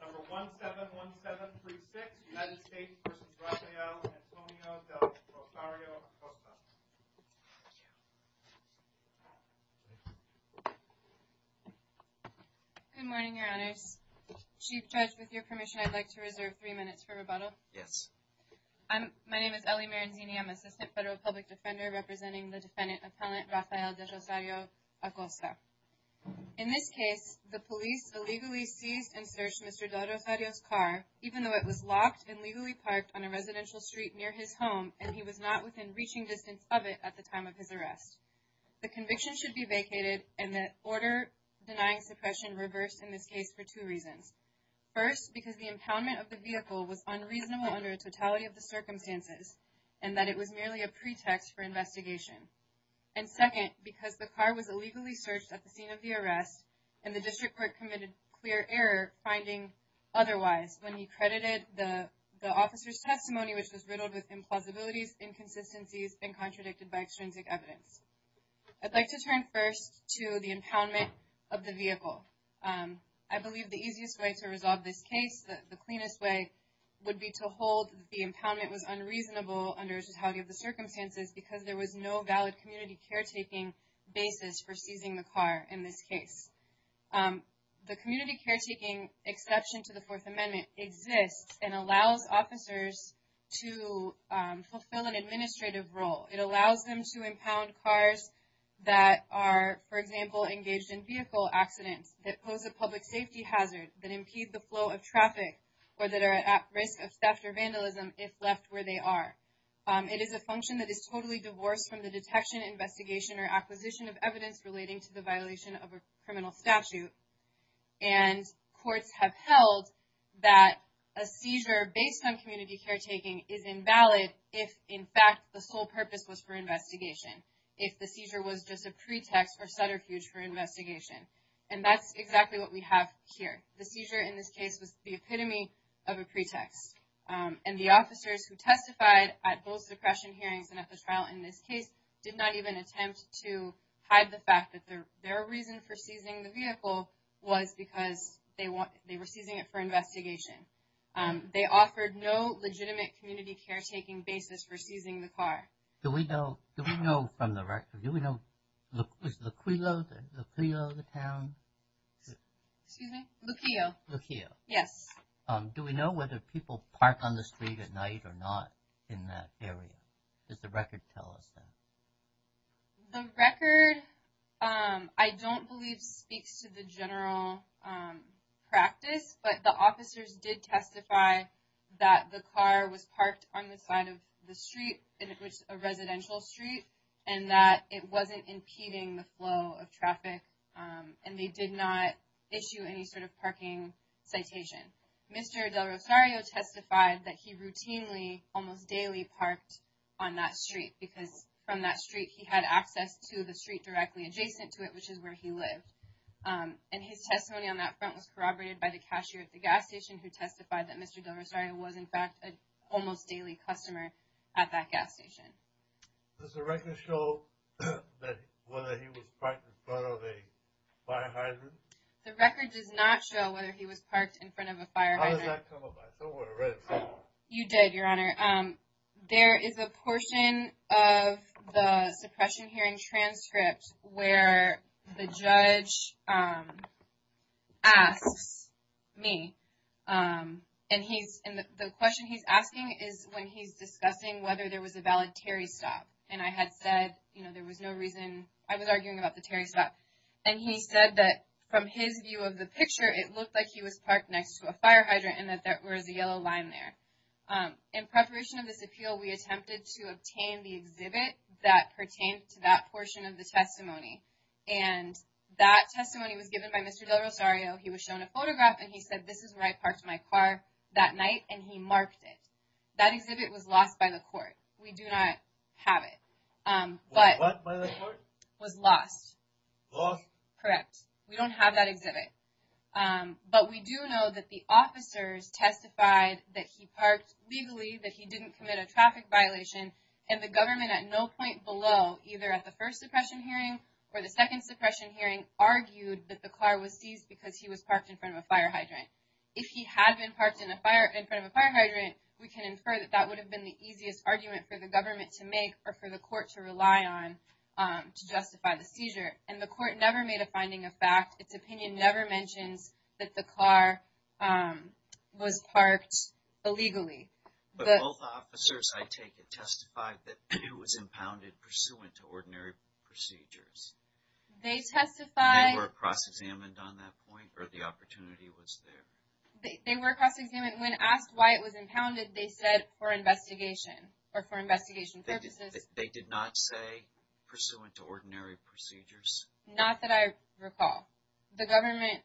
Number 171736, United States v. Rafael Antonio Del Rosario-Acosta Good morning, your honors. Chief Judge, with your permission, I'd like to reserve three minutes for rebuttal. Yes. My name is Ellie Maranzini. I'm Assistant Federal Public Defender representing the defendant appellant Rafael Del Rosario-Acosta. In this case, the police illegally seized and searched Mr. Del Rosario's car even though it was locked and legally parked on a residential street near his home and he was not within reaching distance of it at the time of his arrest. The conviction should be vacated and the order denying suppression reversed in this case for two reasons. First, because the impoundment of the vehicle was unreasonable under a totality of the circumstances and that it was merely a pretext for investigation. And second, because the car was illegally searched at the scene of the arrest and the district court committed clear error finding otherwise when he credited the officer's testimony, which was riddled with implausibilities, inconsistencies, and contradicted by extrinsic evidence. I'd like to turn first to the impoundment of the vehicle. I believe the easiest way to resolve this case, the cleanest way, would be to hold the impoundment was unreasonable under a totality of the circumstances because there was no valid community caretaking basis for seizing the car in this case. The community caretaking exception to the Fourth Amendment exists and allows officers to fulfill an administrative role. It allows them to impound cars that are, for example, engaged in vehicle accidents that pose a public safety hazard, that impede the flow of traffic, or that are at risk of theft or vandalism if left where they are. It is a function that is totally divorced from the detection, investigation, or acquisition of evidence relating to the violation of a criminal statute. And courts have held that a seizure based on community caretaking is invalid if, in fact, the sole purpose was for investigation, if the seizure was just a pretext or subterfuge for investigation. And that's exactly what we have here. The seizure in this case was the epitome of a pretext, and the officers who testified at both suppression hearings and at the trial in this case did not even attempt to hide the fact that their reason for seizing the vehicle was because they were seizing it for investigation. They offered no legitimate community caretaking basis for seizing the car. Do we know from the record, do we know, was it Luquillo, the town? Excuse me? Luquillo. Luquillo. Yes. Do we know whether people park on the street at night or not in that area? Does the record tell us that? The record, I don't believe, speaks to the general practice. But the officers did testify that the car was parked on the side of the street, a residential street, and that it wasn't impeding the flow of traffic and they did not issue any sort of parking citation. Mr. Del Rosario testified that he routinely, almost daily, parked on that street because from that street he had access to the street directly adjacent to it, which is where he lived. And his testimony on that front was corroborated by the cashier at the gas station who testified that Mr. Del Rosario was, in fact, an almost daily customer at that gas station. Does the record show whether he was parked in front of a fire hydrant? The record does not show whether he was parked in front of a fire hydrant. How does that come about? I don't want to read it somehow. You did, Your Honor. There is a portion of the suppression hearing transcript where the judge asks me, and the question he's asking is when he's discussing whether there was a valid Terry stop. And I had said, you know, there was no reason. I was arguing about the Terry stop. And he said that from his view of the picture, it looked like he was parked next to a fire hydrant and that there was a yellow line there. In preparation of this appeal, we attempted to obtain the exhibit that pertained to that portion of the testimony. And that testimony was given by Mr. Del Rosario. He was shown a photograph. And he said, this is where I parked my car that night. And he marked it. That exhibit was lost by the court. We do not have it, but was lost. Correct. We don't have that exhibit. But we do know that the officers testified that he parked legally, that he didn't commit a traffic violation. And the government at no point below, either at the first suppression hearing or the second suppression hearing, argued that the car was seized because he was parked in front of a fire hydrant. If he had been parked in front of a fire hydrant, we can infer that that would have been the easiest argument for the government to make or for the court to rely on to justify the seizure. And the court never made a finding of fact. Its opinion never mentions that the car was parked illegally. But both officers, I take it, testified that it was impounded pursuant to ordinary procedures. They testified. They were cross-examined on that point, or the opportunity was there. They were cross-examined. When asked why it was impounded, they said for investigation or for investigation purposes. They did not say pursuant to ordinary procedures? Not that I recall. The government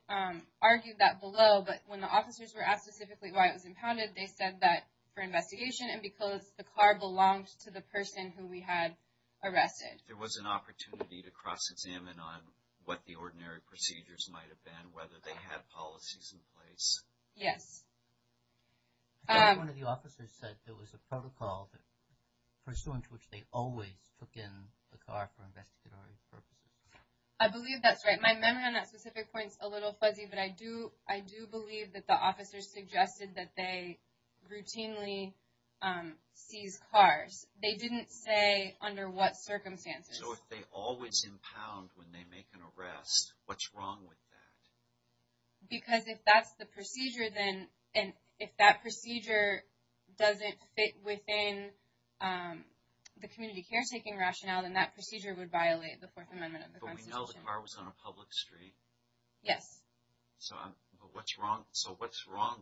argued that below, but when the officers were asked specifically why it was impounded, they said that for investigation and because the car belonged to the person who we had arrested. There was an opportunity to cross-examine on what the ordinary procedures might have been, whether they had policies in place. Yes. One of the officers said there was a protocol pursuant to which they always took in the car for investigation purposes. I believe that's right. My memory on that specific point is a little fuzzy, but I do believe that the officers suggested that they routinely seize cars. They didn't say under what circumstances. So if they always impound when they make an arrest, what's wrong with that? Because if that's the procedure, then if that procedure doesn't fit within the community caretaking rationale, then that procedure would violate the Fourth Amendment of the Constitution. But we know the car was on a public street. Yes. So what's wrong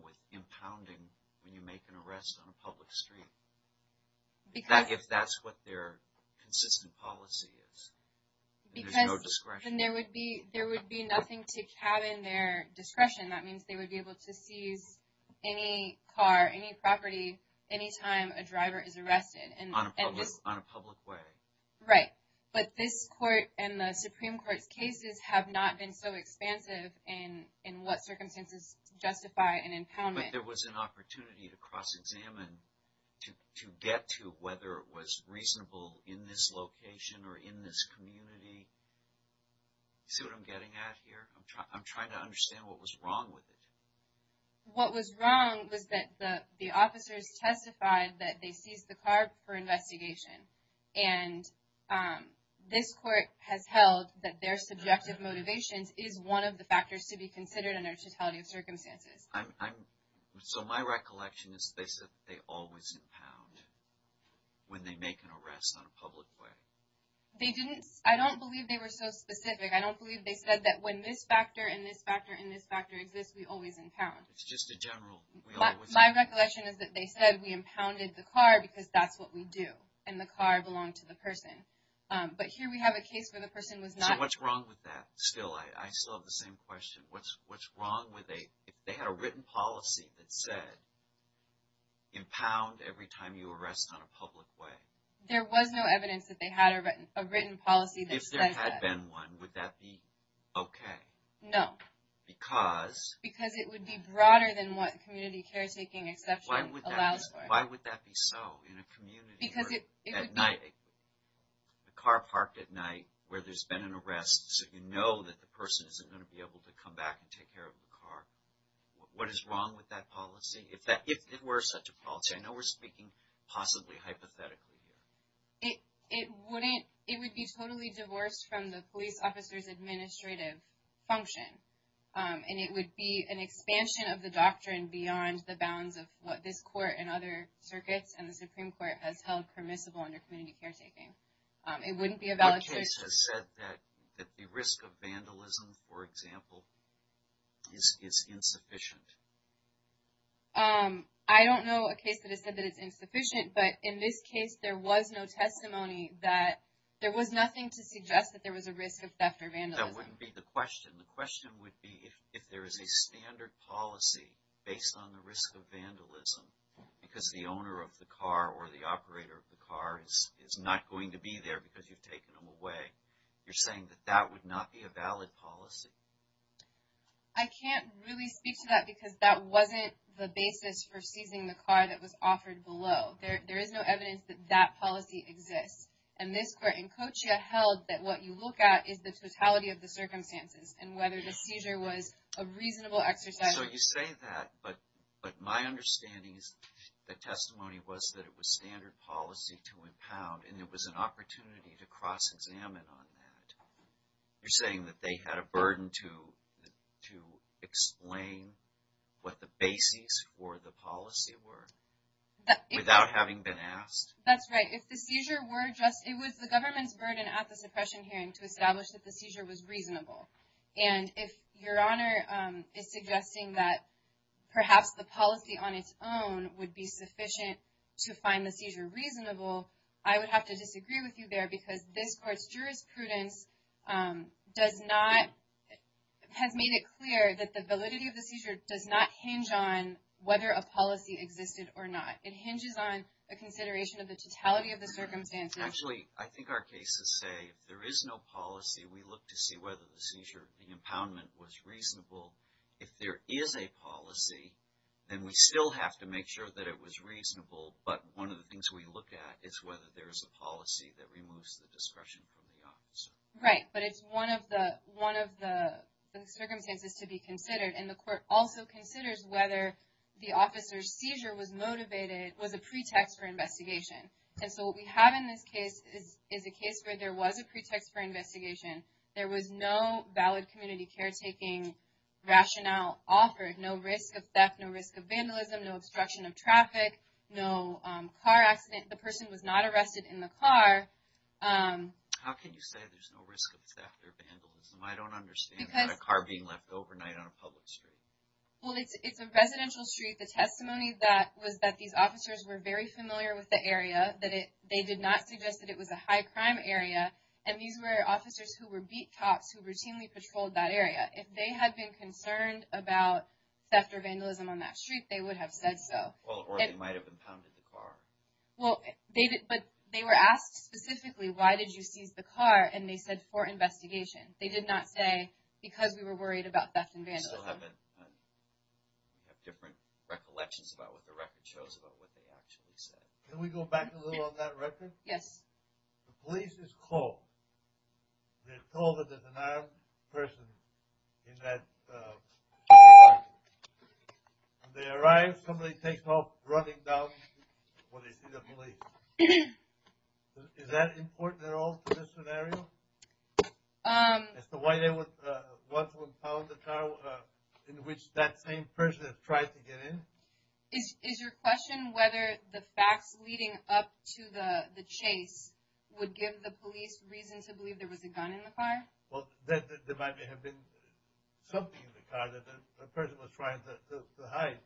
with impounding when you make an arrest on a public street, if that's what their consistent policy is? There's no discretion. Then there would be nothing to cabin their discretion. That means they would be able to seize any car, any property, any time a driver is arrested. On a public way. Right. But this Court and the Supreme Court's cases have not been so expansive in what circumstances justify an impoundment. There was an opportunity to cross-examine to get to whether it was reasonable in this location or in this community. See what I'm getting at here? I'm trying to understand what was wrong with it. What was wrong was that the officers testified that they seized the car for investigation. And this Court has held that their subjective motivations is one of the factors to be considered under totality of circumstances. So my recollection is they said they always impound when they make an arrest on a public way. I don't believe they were so specific. I don't believe they said that when this factor and this factor and this factor exist, we always impound. It's just a general we always impound. My recollection is that they said we impounded the car because that's what we do. And the car belonged to the person. But here we have a case where the person was not… So what's wrong with that? Still, I still have the same question. What's wrong if they had a written policy that said impound every time you arrest on a public way? There was no evidence that they had a written policy that said that. If there had been one, would that be okay? No. Because? Because it would be broader than what community caretaking exception allows for. Why would that be so in a community? Because it would be… The car parked at night where there's been an arrest so you know that the person isn't going to be able to come back and take care of the car. What is wrong with that policy? If there were such a policy? I know we're speaking possibly hypothetically. It wouldn't… It would be totally divorced from the police officer's administrative function. And it would be an expansion of the doctrine beyond the bounds of what this court and other circuits and the Supreme Court has held permissible under community caretaking. It wouldn't be a valid case. What case has said that the risk of vandalism, for example, is insufficient? I don't know a case that has said that it's insufficient. But in this case, there was no testimony that there was nothing to suggest that there was a risk of theft or vandalism. That wouldn't be the question. The question would be if there is a standard policy based on the risk of vandalism because the owner of the car or the operator of the car is not going to be there because you've taken them away. You're saying that that would not be a valid policy. I can't really speak to that because that wasn't the basis for seizing the car that was offered below. There is no evidence that that policy exists. And this court in Cochia held that what you look at is the totality of the circumstances and whether the seizure was a reasonable exercise. So you say that, but my understanding is that testimony was that it was standard policy to impound and it was an opportunity to cross-examine on that. You're saying that they had a burden to explain what the basis for the policy were without having been asked? That's right. It was the government's burden at the suppression hearing to establish that the seizure was reasonable. And if Your Honor is suggesting that perhaps the policy on its own would be sufficient to find the seizure reasonable, I would have to disagree with you there because this court's jurisprudence has made it clear that the validity of the seizure does not hinge on whether a policy existed or not. It hinges on a consideration of the totality of the circumstances. Actually, I think our cases say there is no policy. We look to see whether the seizure, the impoundment was reasonable. If there is a policy, then we still have to make sure that it was reasonable. But one of the things we look at is whether there is a policy that removes the discretion from the officer. Right, but it's one of the circumstances to be considered. And the court also considers whether the officer's seizure was motivated, was a pretext for investigation. And so what we have in this case is a case where there was a pretext for investigation. There was no valid community caretaking rationale offered. No risk of theft, no risk of vandalism, no obstruction of traffic, no car accident. The person was not arrested in the car. How can you say there's no risk of theft or vandalism? I don't understand a car being left overnight on a public street. Well, it's a residential street. The testimony was that these officers were very familiar with the area. They did not suggest that it was a high-crime area. And these were officers who were beat cops who routinely patrolled that area. If they had been concerned about theft or vandalism on that street, they would have said so. Or they might have impounded the car. Well, but they were asked specifically, why did you seize the car? And they said, for investigation. They did not say, because we were worried about theft and vandalism. We still have different recollections about what the record shows about what they actually said. Can we go back a little on that record? Yes. The police is called. They're told that there's an armed person in that car. When they arrive, somebody takes off running down where they see the police. Is that important at all for this scenario? As to why they would want to impound the car in which that same person has tried to get in? Is your question whether the facts leading up to the chase would give the police reason to believe there was a gun in the car? Well, there might have been something in the car that the person was trying to hide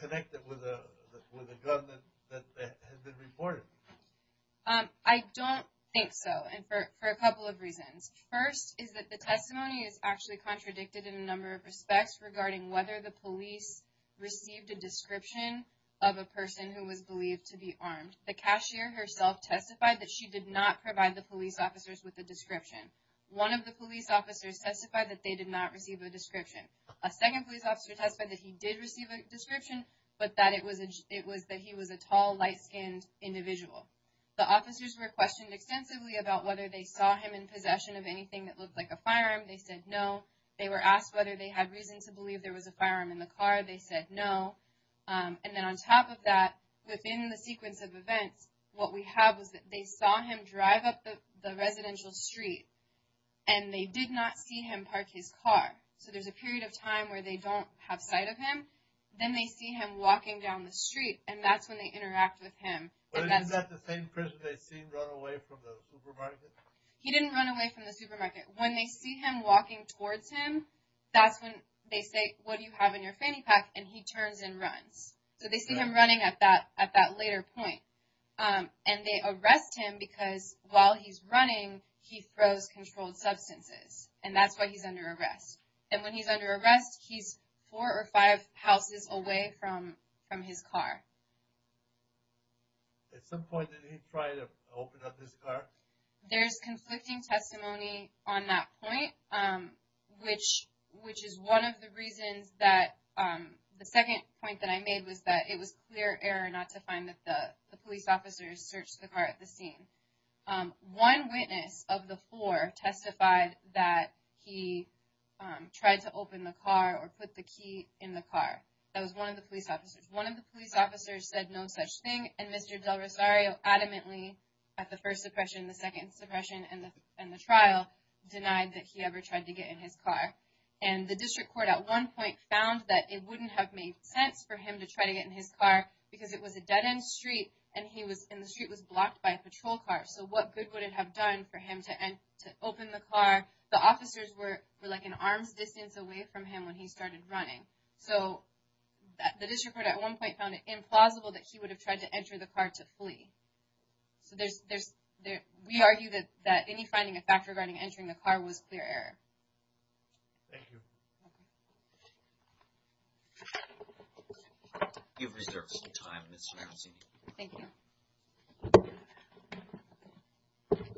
connected with a gun that had been reported. I don't think so, and for a couple of reasons. First is that the testimony is actually contradicted in a number of respects regarding whether the police received a description of a person who was believed to be armed. The cashier herself testified that she did not provide the police officers with a description. One of the police officers testified that they did not receive a description. A second police officer testified that he did receive a description, but that he was a tall, light-skinned individual. The officers were questioned extensively about whether they saw him in possession of anything that looked like a firearm. They said no. They were asked whether they had reason to believe there was a firearm in the car. They said no. And then on top of that, within the sequence of events, what we have is that they saw him drive up the residential street, and they did not see him park his car. So there's a period of time where they don't have sight of him. Then they see him walking down the street, and that's when they interact with him. But isn't that the same person they see run away from the supermarket? He didn't run away from the supermarket. When they see him walking towards him, that's when they say, what do you have in your fanny pack? And he turns and runs. So they see him running at that later point, and they arrest him because while he's running, he throws controlled substances. And that's why he's under arrest. And when he's under arrest, he's four or five houses away from his car. At some point, did he try to open up his car? There's conflicting testimony on that point, which is one of the reasons that the second point that I made was that it was clear error not to find that the police officers searched the car at the scene. One witness of the four testified that he tried to open the car or put the key in the car. That was one of the police officers. One of the police officers said no such thing, and Mr. Del Rosario adamantly at the first suppression, the second suppression, and the trial denied that he ever tried to get in his car. And the district court at one point found that it wouldn't have made sense for him to try to get in his car because it was a dead-end street, and the street was blocked by a patrol car. So what good would it have done for him to open the car? The officers were like an arm's distance away from him when he started running. So the district court at one point found it implausible that he would have tried to enter the car to flee. So we argue that any finding of fact regarding entering the car was clear error. Thank you. You have reserved some time, Ms. Ramsey. Thank you. Good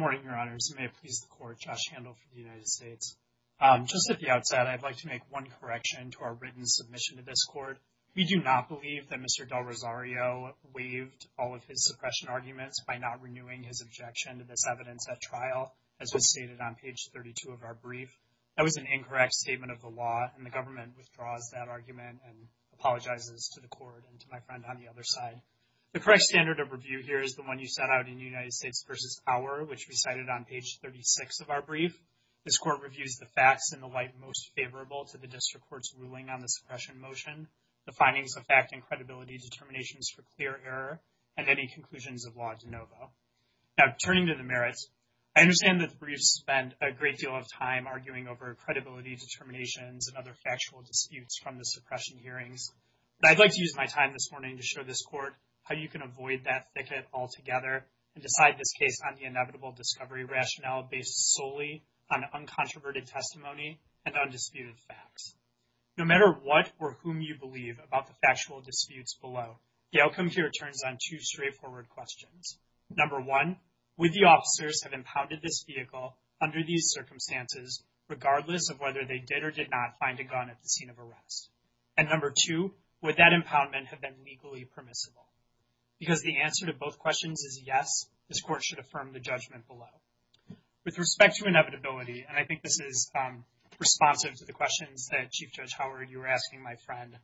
morning, Your Honors. May it please the court, Josh Handel for the United States. Just at the outset, I'd like to make one correction to our written submission to this court. We do not believe that Mr. Del Rosario waived all of his suppression arguments by not renewing his objection to this evidence at trial. As was stated on page 32 of our brief, that was an incorrect statement of the law, and the government withdraws that argument and apologizes to the court and to my friend on the other side. The correct standard of review here is the one you set out in United States v. Power, which we cited on page 36 of our brief. This court reviews the facts in the light most favorable to the district court's ruling on the suppression motion, the findings of fact and credibility determinations for clear error, and any conclusions of law de novo. Now, turning to the merits, I understand that the briefs spend a great deal of time arguing over credibility determinations and other factual disputes from the suppression hearings. But I'd like to use my time this morning to show this court how you can avoid that thicket altogether and decide this case on the inevitable discovery rationale based solely on uncontroverted testimony and undisputed facts. No matter what or whom you believe about the factual disputes below, the outcome here turns on two straightforward questions. Number one, would the officers have impounded this vehicle under these circumstances regardless of whether they did or did not find a gun at the scene of arrest? And number two, would that impoundment have been legally permissible? Because the answer to both questions is yes, this court should affirm the judgment below. With respect to inevitability, and I think this is responsive to the questions that Chief Judge Howard, you were asking my friend,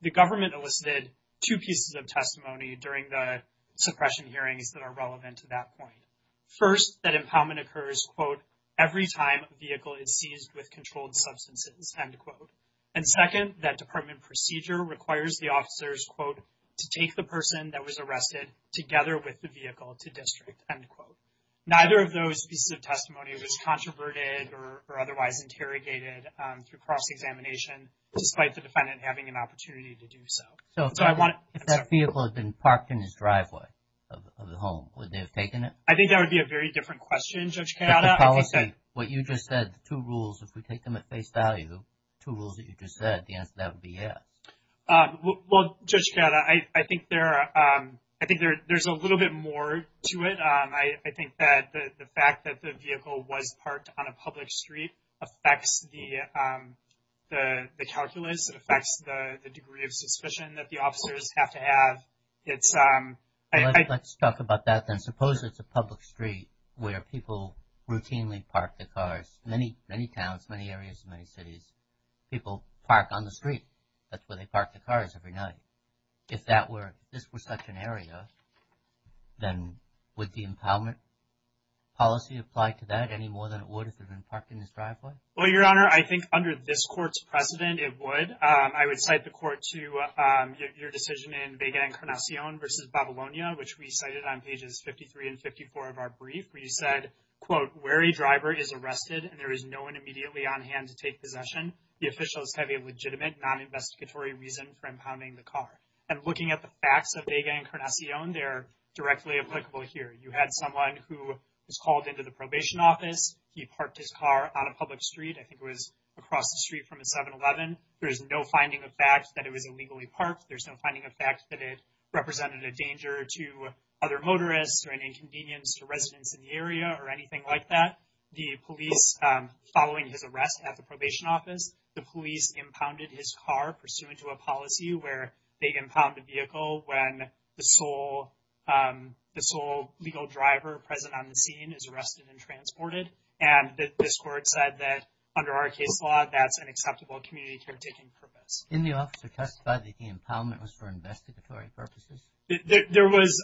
the government elicited two pieces of testimony during the suppression hearings that are relevant to that point. First, that impoundment occurs, quote, every time a vehicle is seized with controlled substances, end quote. And second, that department procedure requires the officers, quote, to take the person that was arrested together with the vehicle to district, end quote. Neither of those pieces of testimony was controverted or otherwise interrogated through cross-examination, despite the defendant having an opportunity to do so. So if that vehicle had been parked in his driveway of the home, would they have taken it? I think that would be a very different question, Judge Kayada. What you just said, the two rules, if we take them at face value, two rules that you just said, the answer to that would be yes. Well, Judge Kayada, I think there's a little bit more to it. I think that the fact that the vehicle was parked on a public street affects the calculus, affects the degree of suspicion that the officers have to have. Let's talk about that, then. Suppose it's a public street where people routinely park their cars. Many, many towns, many areas, many cities, people park on the street. That's where they park their cars every night. If this were such an area, then would the impoundment policy apply to that any more than it would if it had been parked in his driveway? Well, Your Honor, I think under this court's precedent, it would. I would cite the court to your decision in Vega Encarnacion v. Babylonia, which we cited on pages 53 and 54 of our brief, where you said, quote, Where a driver is arrested and there is no one immediately on hand to take possession, the officials have a legitimate, non-investigatory reason for impounding the car. And looking at the facts of Vega Encarnacion, they're directly applicable here. You had someone who was called into the probation office. He parked his car on a public street. I think it was across the street from a 7-Eleven. There's no finding of fact that it was illegally parked. There's no finding of fact that it represented a danger to other motorists or an inconvenience to residents in the area or anything like that. The police, following his arrest at the probation office, the police impounded his car pursuant to a policy where they impound a vehicle when the sole legal driver present on the scene is arrested and transported. And this court said that under our case law, that's an acceptable community caretaking purpose. Can the officer testify that the impoundment was for investigatory purposes? There was,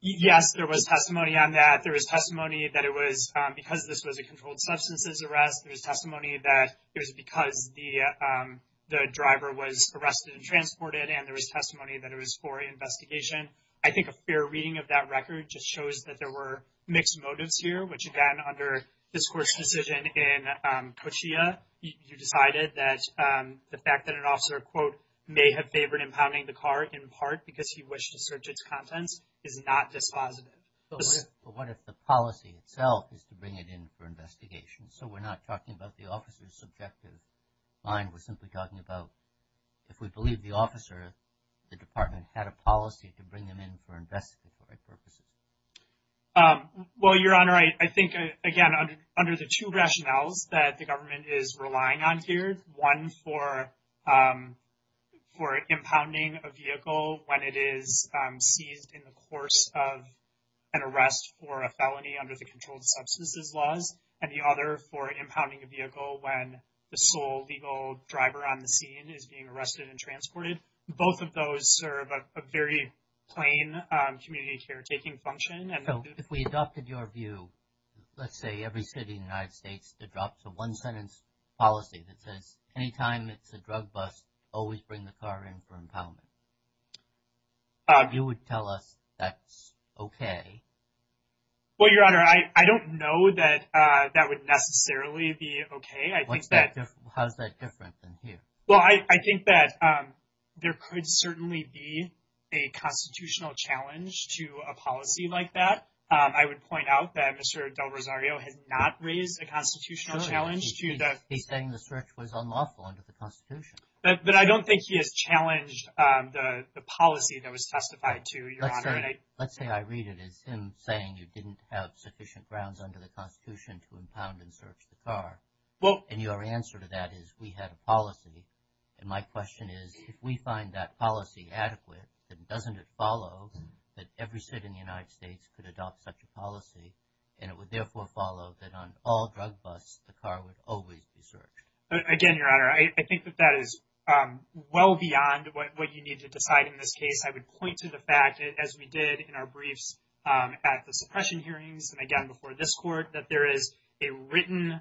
yes, there was testimony on that. There was testimony that it was because this was a controlled substances arrest. There was testimony that it was because the driver was arrested and transported. And there was testimony that it was for investigation. I think a fair reading of that record just shows that there were mixed motives here, which, again, under this court's decision in Cochia, you decided that the fact that an officer, quote, may have favored impounding the car in part because he wished to search its contents is not dispositive. But what if the policy itself is to bring it in for investigation? So we're not talking about the officer's subjective mind. We're simply talking about if we believe the officer, the department had a policy to bring them in for investigatory purposes. Well, Your Honor, I think, again, under the two rationales that the government is relying on here, one for for impounding a vehicle when it is seized in the course of an arrest for a felony under the controlled substances laws and the other for impounding a vehicle when the sole legal driver on the scene is being arrested and transported. Both of those are of a very plain community caretaking function. So if we adopted your view, let's say every city in the United States to drop the one sentence policy that says anytime it's a drug bust, always bring the car in for impoundment. You would tell us that's okay. Well, Your Honor, I don't know that that would necessarily be okay. How's that different than here? Well, I think that there could certainly be a constitutional challenge to a policy like that. I would point out that Mr. Del Rosario has not raised a constitutional challenge to that. He's saying the search was unlawful under the Constitution. But I don't think he has challenged the policy that was testified to. Let's say I read it as him saying you didn't have sufficient grounds under the Constitution to impound and search the car. And your answer to that is we had a policy. And my question is, if we find that policy adequate, then doesn't it follow that every city in the United States could adopt such a policy? And it would therefore follow that on all drug busts, the car would always be searched. Again, Your Honor, I think that that is well beyond what you need to decide. In this case, I would point to the fact, as we did in our briefs at the suppression hearings and again before this court, that there is a written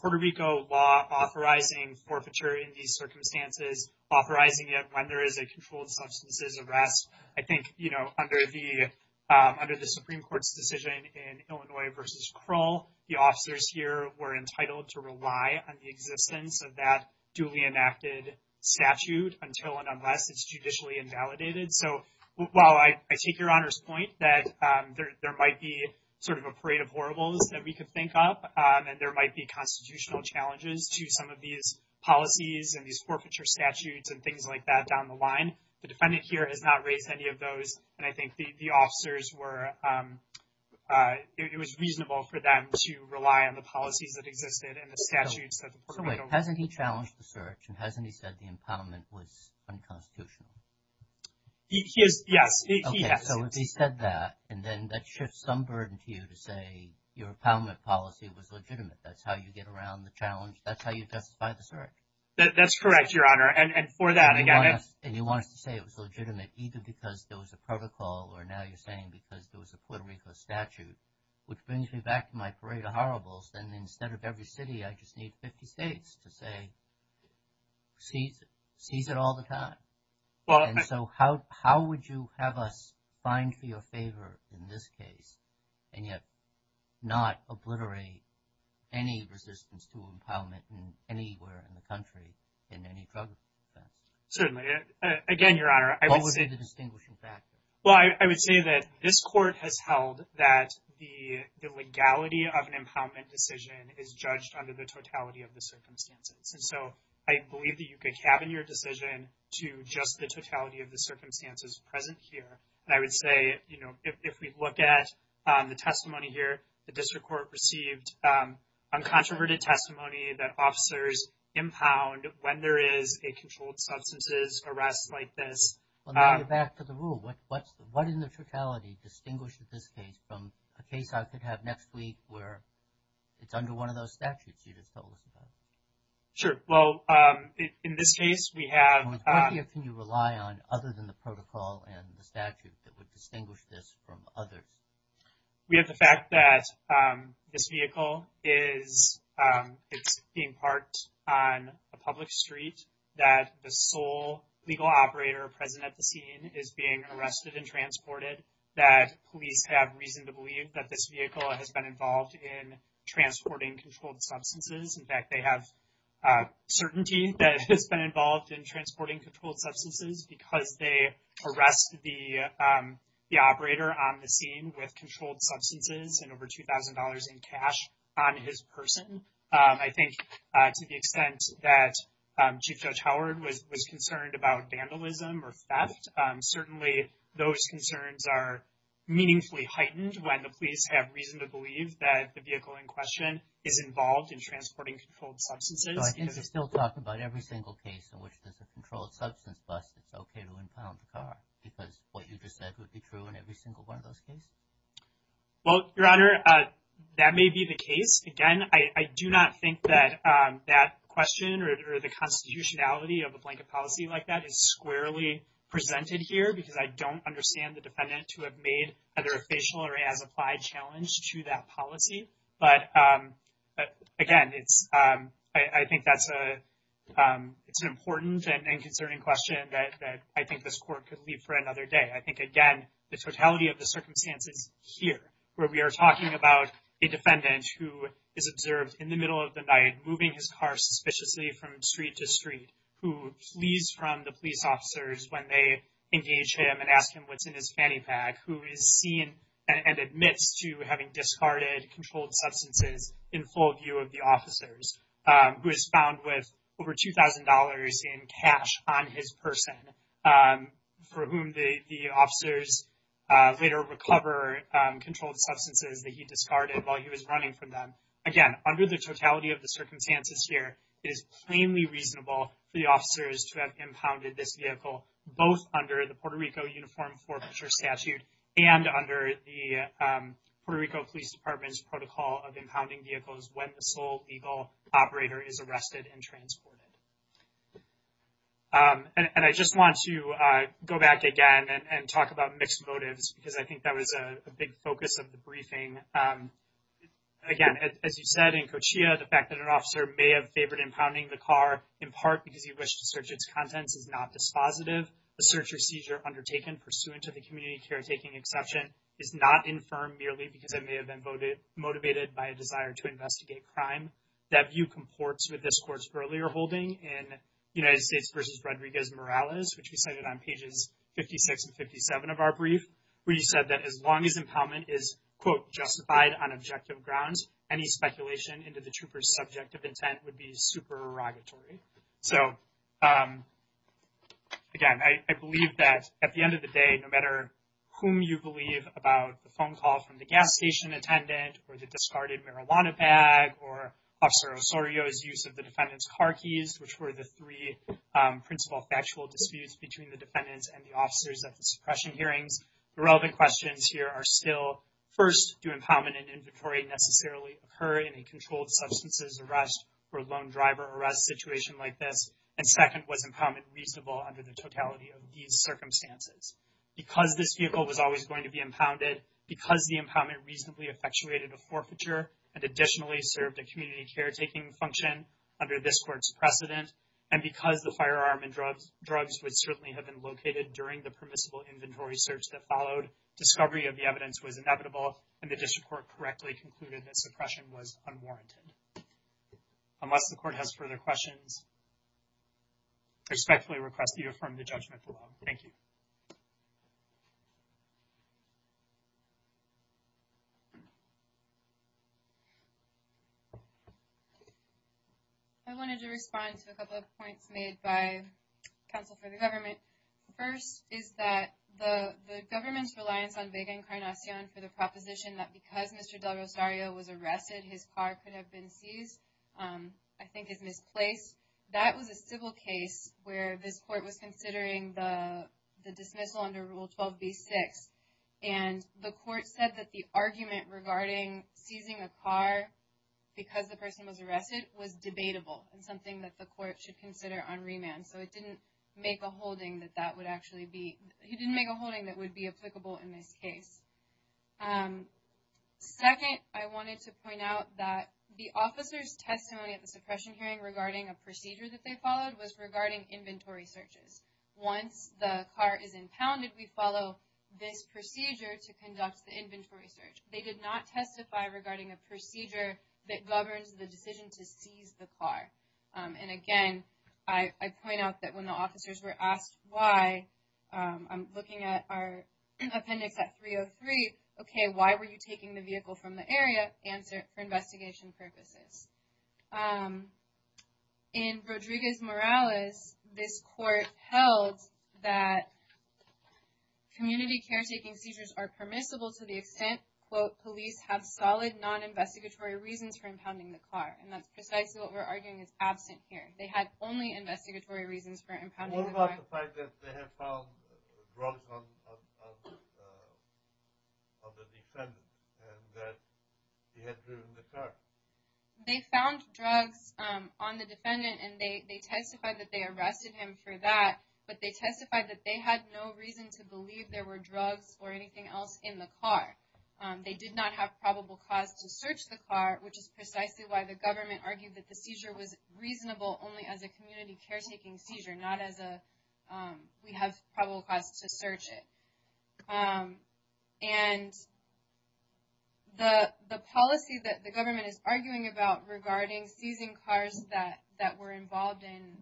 Puerto Rico law authorizing forfeiture in these circumstances, authorizing it when there is a controlled substances arrest. I think, you know, under the Supreme Court's decision in Illinois versus Krull, the officers here were entitled to rely on the existence of that duly enacted statute until and unless it's judicially invalidated. So while I take Your Honor's point that there might be sort of a parade of horribles that we could think up, and there might be constitutional challenges to some of these policies and these forfeiture statutes and things like that down the line, the defendant here has not raised any of those. And I think the officers were it was reasonable for them to rely on the policies that existed and the statutes. So hasn't he challenged the search and hasn't he said the impoundment was unconstitutional? Yes. So he said that and then that shifts some burden to you to say your policy was legitimate. That's how you get around the challenge. That's correct, Your Honor. And for that, again, And you want us to say it was legitimate either because there was a protocol or now you're saying because there was a plenary for statute, which brings me back to my parade of horribles. Then instead of every city, I just need 50 states to say seize it all the time. And so how how would you have us find for your favor in this case and yet not obliterate any resistance to impoundment anywhere in the country in any drug? Certainly. Again, Your Honor, I would say the distinguishing factor. Well, I would say that this court has held that the legality of an impoundment decision is judged under the totality of the circumstances. And so I believe that you could cabin your decision to just the totality of the circumstances present here. And I would say, you know, if we look at the testimony here, the district court received uncontroverted testimony that officers impound when there is a controlled substances arrest like this. Well, now you're back to the rule. What what's what in the totality distinguishes this case from a case I could have next week where it's under one of those statutes you just told us about? Sure. Well, in this case, we have. What can you rely on other than the protocol and the statute that would distinguish this from others? We have the fact that this vehicle is being parked on a public street, that the sole legal operator present at the scene is being arrested and transported, that police have reason to believe that this vehicle has been involved in transporting controlled substances. In fact, they have certainty that has been involved in transporting controlled substances because they arrest the operator on the scene with controlled substances and over 2000 dollars in cash on his person. I think to the extent that Chief Judge Howard was concerned about vandalism or theft. Certainly, those concerns are meaningfully heightened when the police have reason to believe that the vehicle in question is involved in transporting controlled substances. I can still talk about every single case in which there's a controlled substance bust. It's okay to impound the car because what you just said would be true in every single one of those cases. Well, Your Honor, that may be the case. Again, I do not think that that question or the constitutionality of a blanket policy like that is squarely presented here because I don't understand the defendant to have made either a facial or as applied challenge to that policy. But again, it's I think that's a it's an important and concerning question that I think this court could leave for another day. I think, again, the totality of the circumstances here where we are talking about a defendant who is observed in the middle of the night, moving his car suspiciously from street to street, who flees from the police officers when they engage him and ask him what's in his fanny pack. Who is seen and admits to having discarded controlled substances in full view of the officers who is found with over two thousand dollars in cash on his person for whom the officers later recover controlled substances that he discarded while he was running from them. Again, under the totality of the circumstances here, it is plainly reasonable for the officers to have impounded this vehicle, both under the Puerto Rico Uniform Forfeiture Statute and under the Puerto Rico Police Department's protocol of impounding vehicles when the sole legal operator is arrested and transported. And I just want to go back again and talk about mixed motives, because I think that was a big focus of the briefing. Again, as you said, in Cochia, the fact that an officer may have favored impounding the car in part because he wished to search its contents is not dispositive. The search or seizure undertaken pursuant to the community caretaking exception is not infirm merely because it may have been motivated by a desire to investigate crime. That view comports with this court's earlier holding in United States v. Rodriguez Morales, which we cited on pages 56 and 57 of our brief, where you said that as long as impoundment is, quote, justified on objective grounds, any speculation into the trooper's subjective intent would be supererogatory. So, again, I believe that at the end of the day, no matter whom you believe about the phone call from the gas station attendant or the discarded marijuana bag or Officer Osorio's use of the defendant's car keys, which were the three principal factual disputes between the defendants and the officers at the suppression hearings, the relevant questions here are still, first, do impoundment and inventory necessarily occur in a controlled substances arrest or loan driver arrest situation like this, and second, was impoundment reasonable under the totality of these circumstances? Because this vehicle was always going to be impounded, because the impoundment reasonably effectuated a forfeiture and additionally served a community caretaking function under this court's precedent, and because the firearm and drugs would certainly have been located during the permissible inventory search that followed, discovery of the evidence was inevitable and the district court correctly concluded that suppression was unwarranted. Unless the court has further questions, I respectfully request that you affirm the judgment below. Thank you. I wanted to respond to a couple of points made by counsel for the government. First is that the government's reliance on big incarnation for the proposition that because Mr. Del Rosario was arrested, his car could have been seized, I think is misplaced. That was a civil case where this court was considering the dismissal under Rule 12b-6, and the court said that the argument regarding seizing a car because the person was arrested was debatable and something that the court should consider on remand. So it didn't make a holding that that would actually be, it didn't make a holding that would be applicable in this case. Second, I wanted to point out that the officer's testimony at the suppression hearing regarding a procedure that they followed was regarding inventory searches. Once the car is impounded, we follow this procedure to conduct the inventory search. They did not testify regarding a procedure that governs the decision to seize the car. And again, I point out that when the officers were asked why, I'm looking at our appendix at 303, okay, why were you taking the vehicle from the area? Answer, for investigation purposes. In Rodriguez-Morales, this court held that community caretaking seizures are permissible to the extent, quote, police have solid non-investigatory reasons for impounding the car. And that's precisely what we're arguing is absent here. They had only investigatory reasons for impounding the car. What about the fact that they have found brunt of the defendant and that he had driven the car? They found drugs on the defendant and they testified that they arrested him for that, but they testified that they had no reason to believe there were drugs or anything else in the car. They did not have probable cause to search the car, which is precisely why the government argued that the seizure was reasonable only as a community caretaking seizure, not as a, we have probable cause to search it. And the policy that the government is arguing about regarding seizing cars that were involved in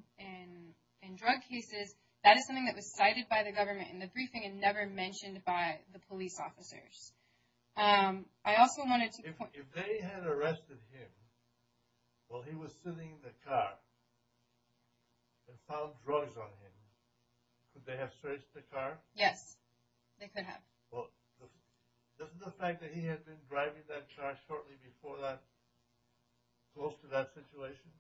drug cases, that is something that was cited by the government in the briefing and never mentioned by the police officers. If they had arrested him while he was sitting in the car and found drugs on him, could they have searched the car? Yes, they could have. Well, doesn't the fact that he had been driving that car shortly before that close to that situation?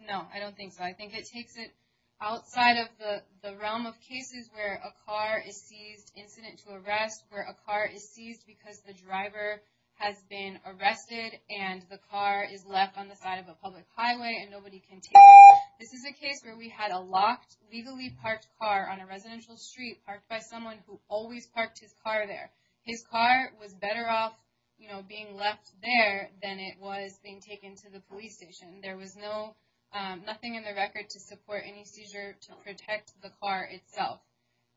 No, I don't think so. I think it takes it outside of the realm of cases where a car is seized, incident to arrest, where a car is seized because the driver has been arrested and the car is left on the side of a public highway and nobody can take it. This is a case where we had a locked, legally parked car on a residential street parked by someone who always parked his car there. His car was better off being left there than it was being taken to the police station. There was nothing in the record to support any seizure to protect the car itself.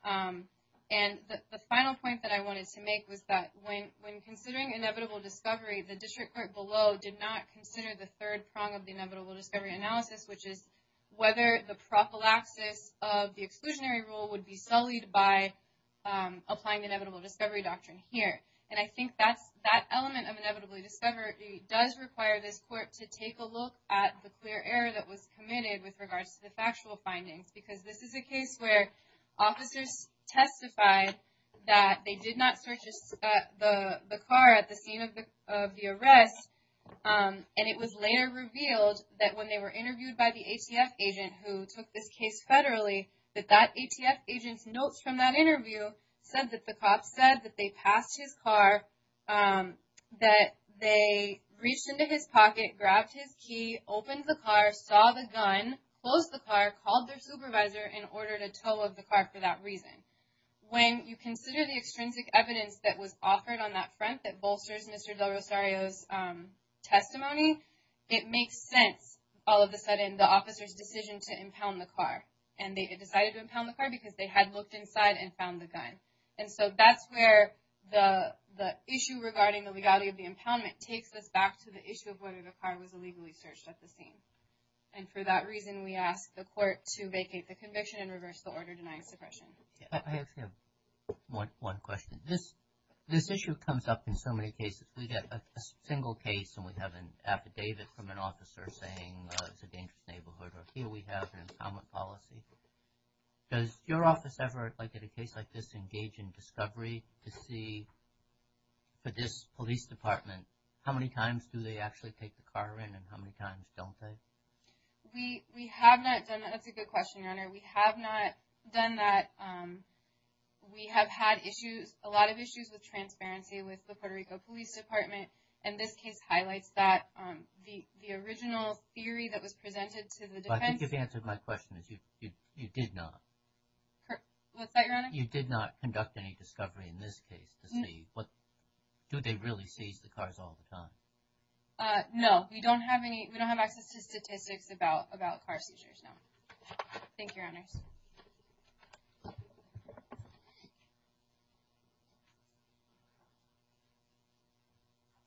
The final point that I wanted to make was that when considering inevitable discovery, the district court below did not consider the third prong of the inevitable discovery analysis, which is whether the prophylaxis of the exclusionary rule would be sullied by applying the inevitable discovery doctrine here. I think that element of inevitably discovery does require this court to take a look at the clear error that was committed with regards to the factual findings because this is a case where officers testified that they did not search the car at the scene of the arrest. It was later revealed that when they were interviewed by the ATF agent who took this case federally, that that ATF agent's notes from that interview said that the cop said that they passed his car, that they reached into his pocket, grabbed his key, opened the car, saw the gun, closed the car, called their supervisor, and ordered a tow of the car for that reason. When you consider the extrinsic evidence that was offered on that front that bolsters Mr. Del Rosario's testimony, it makes sense all of a sudden the officer's decision to impound the car. And they decided to impound the car because they had looked inside and found the gun. And so that's where the issue regarding the legality of the impoundment takes us back to the issue of whether the car was illegally searched at the scene. And for that reason we ask the court to vacate the conviction and reverse the order denying suppression. I have one question. This issue comes up in so many cases. We get a single case and we have an affidavit from an officer saying it's a dangerous neighborhood. Or here we have an impoundment policy. Does your office ever, like in a case like this, engage in discovery to see, for this police department, how many times do they actually take the car in and how many times don't they? We have not done that. That's a good question, Your Honor. We have not done that. We have had issues, a lot of issues, with transparency with the Puerto Rico Police Department. And this case highlights that. The original theory that was presented to the defense… But I think you've answered my question. You did not. What's that, Your Honor? You did not conduct any discovery in this case to see do they really seize the cars all the time? No. We don't have access to statistics about car seizures, no. Thank you, Your Honors.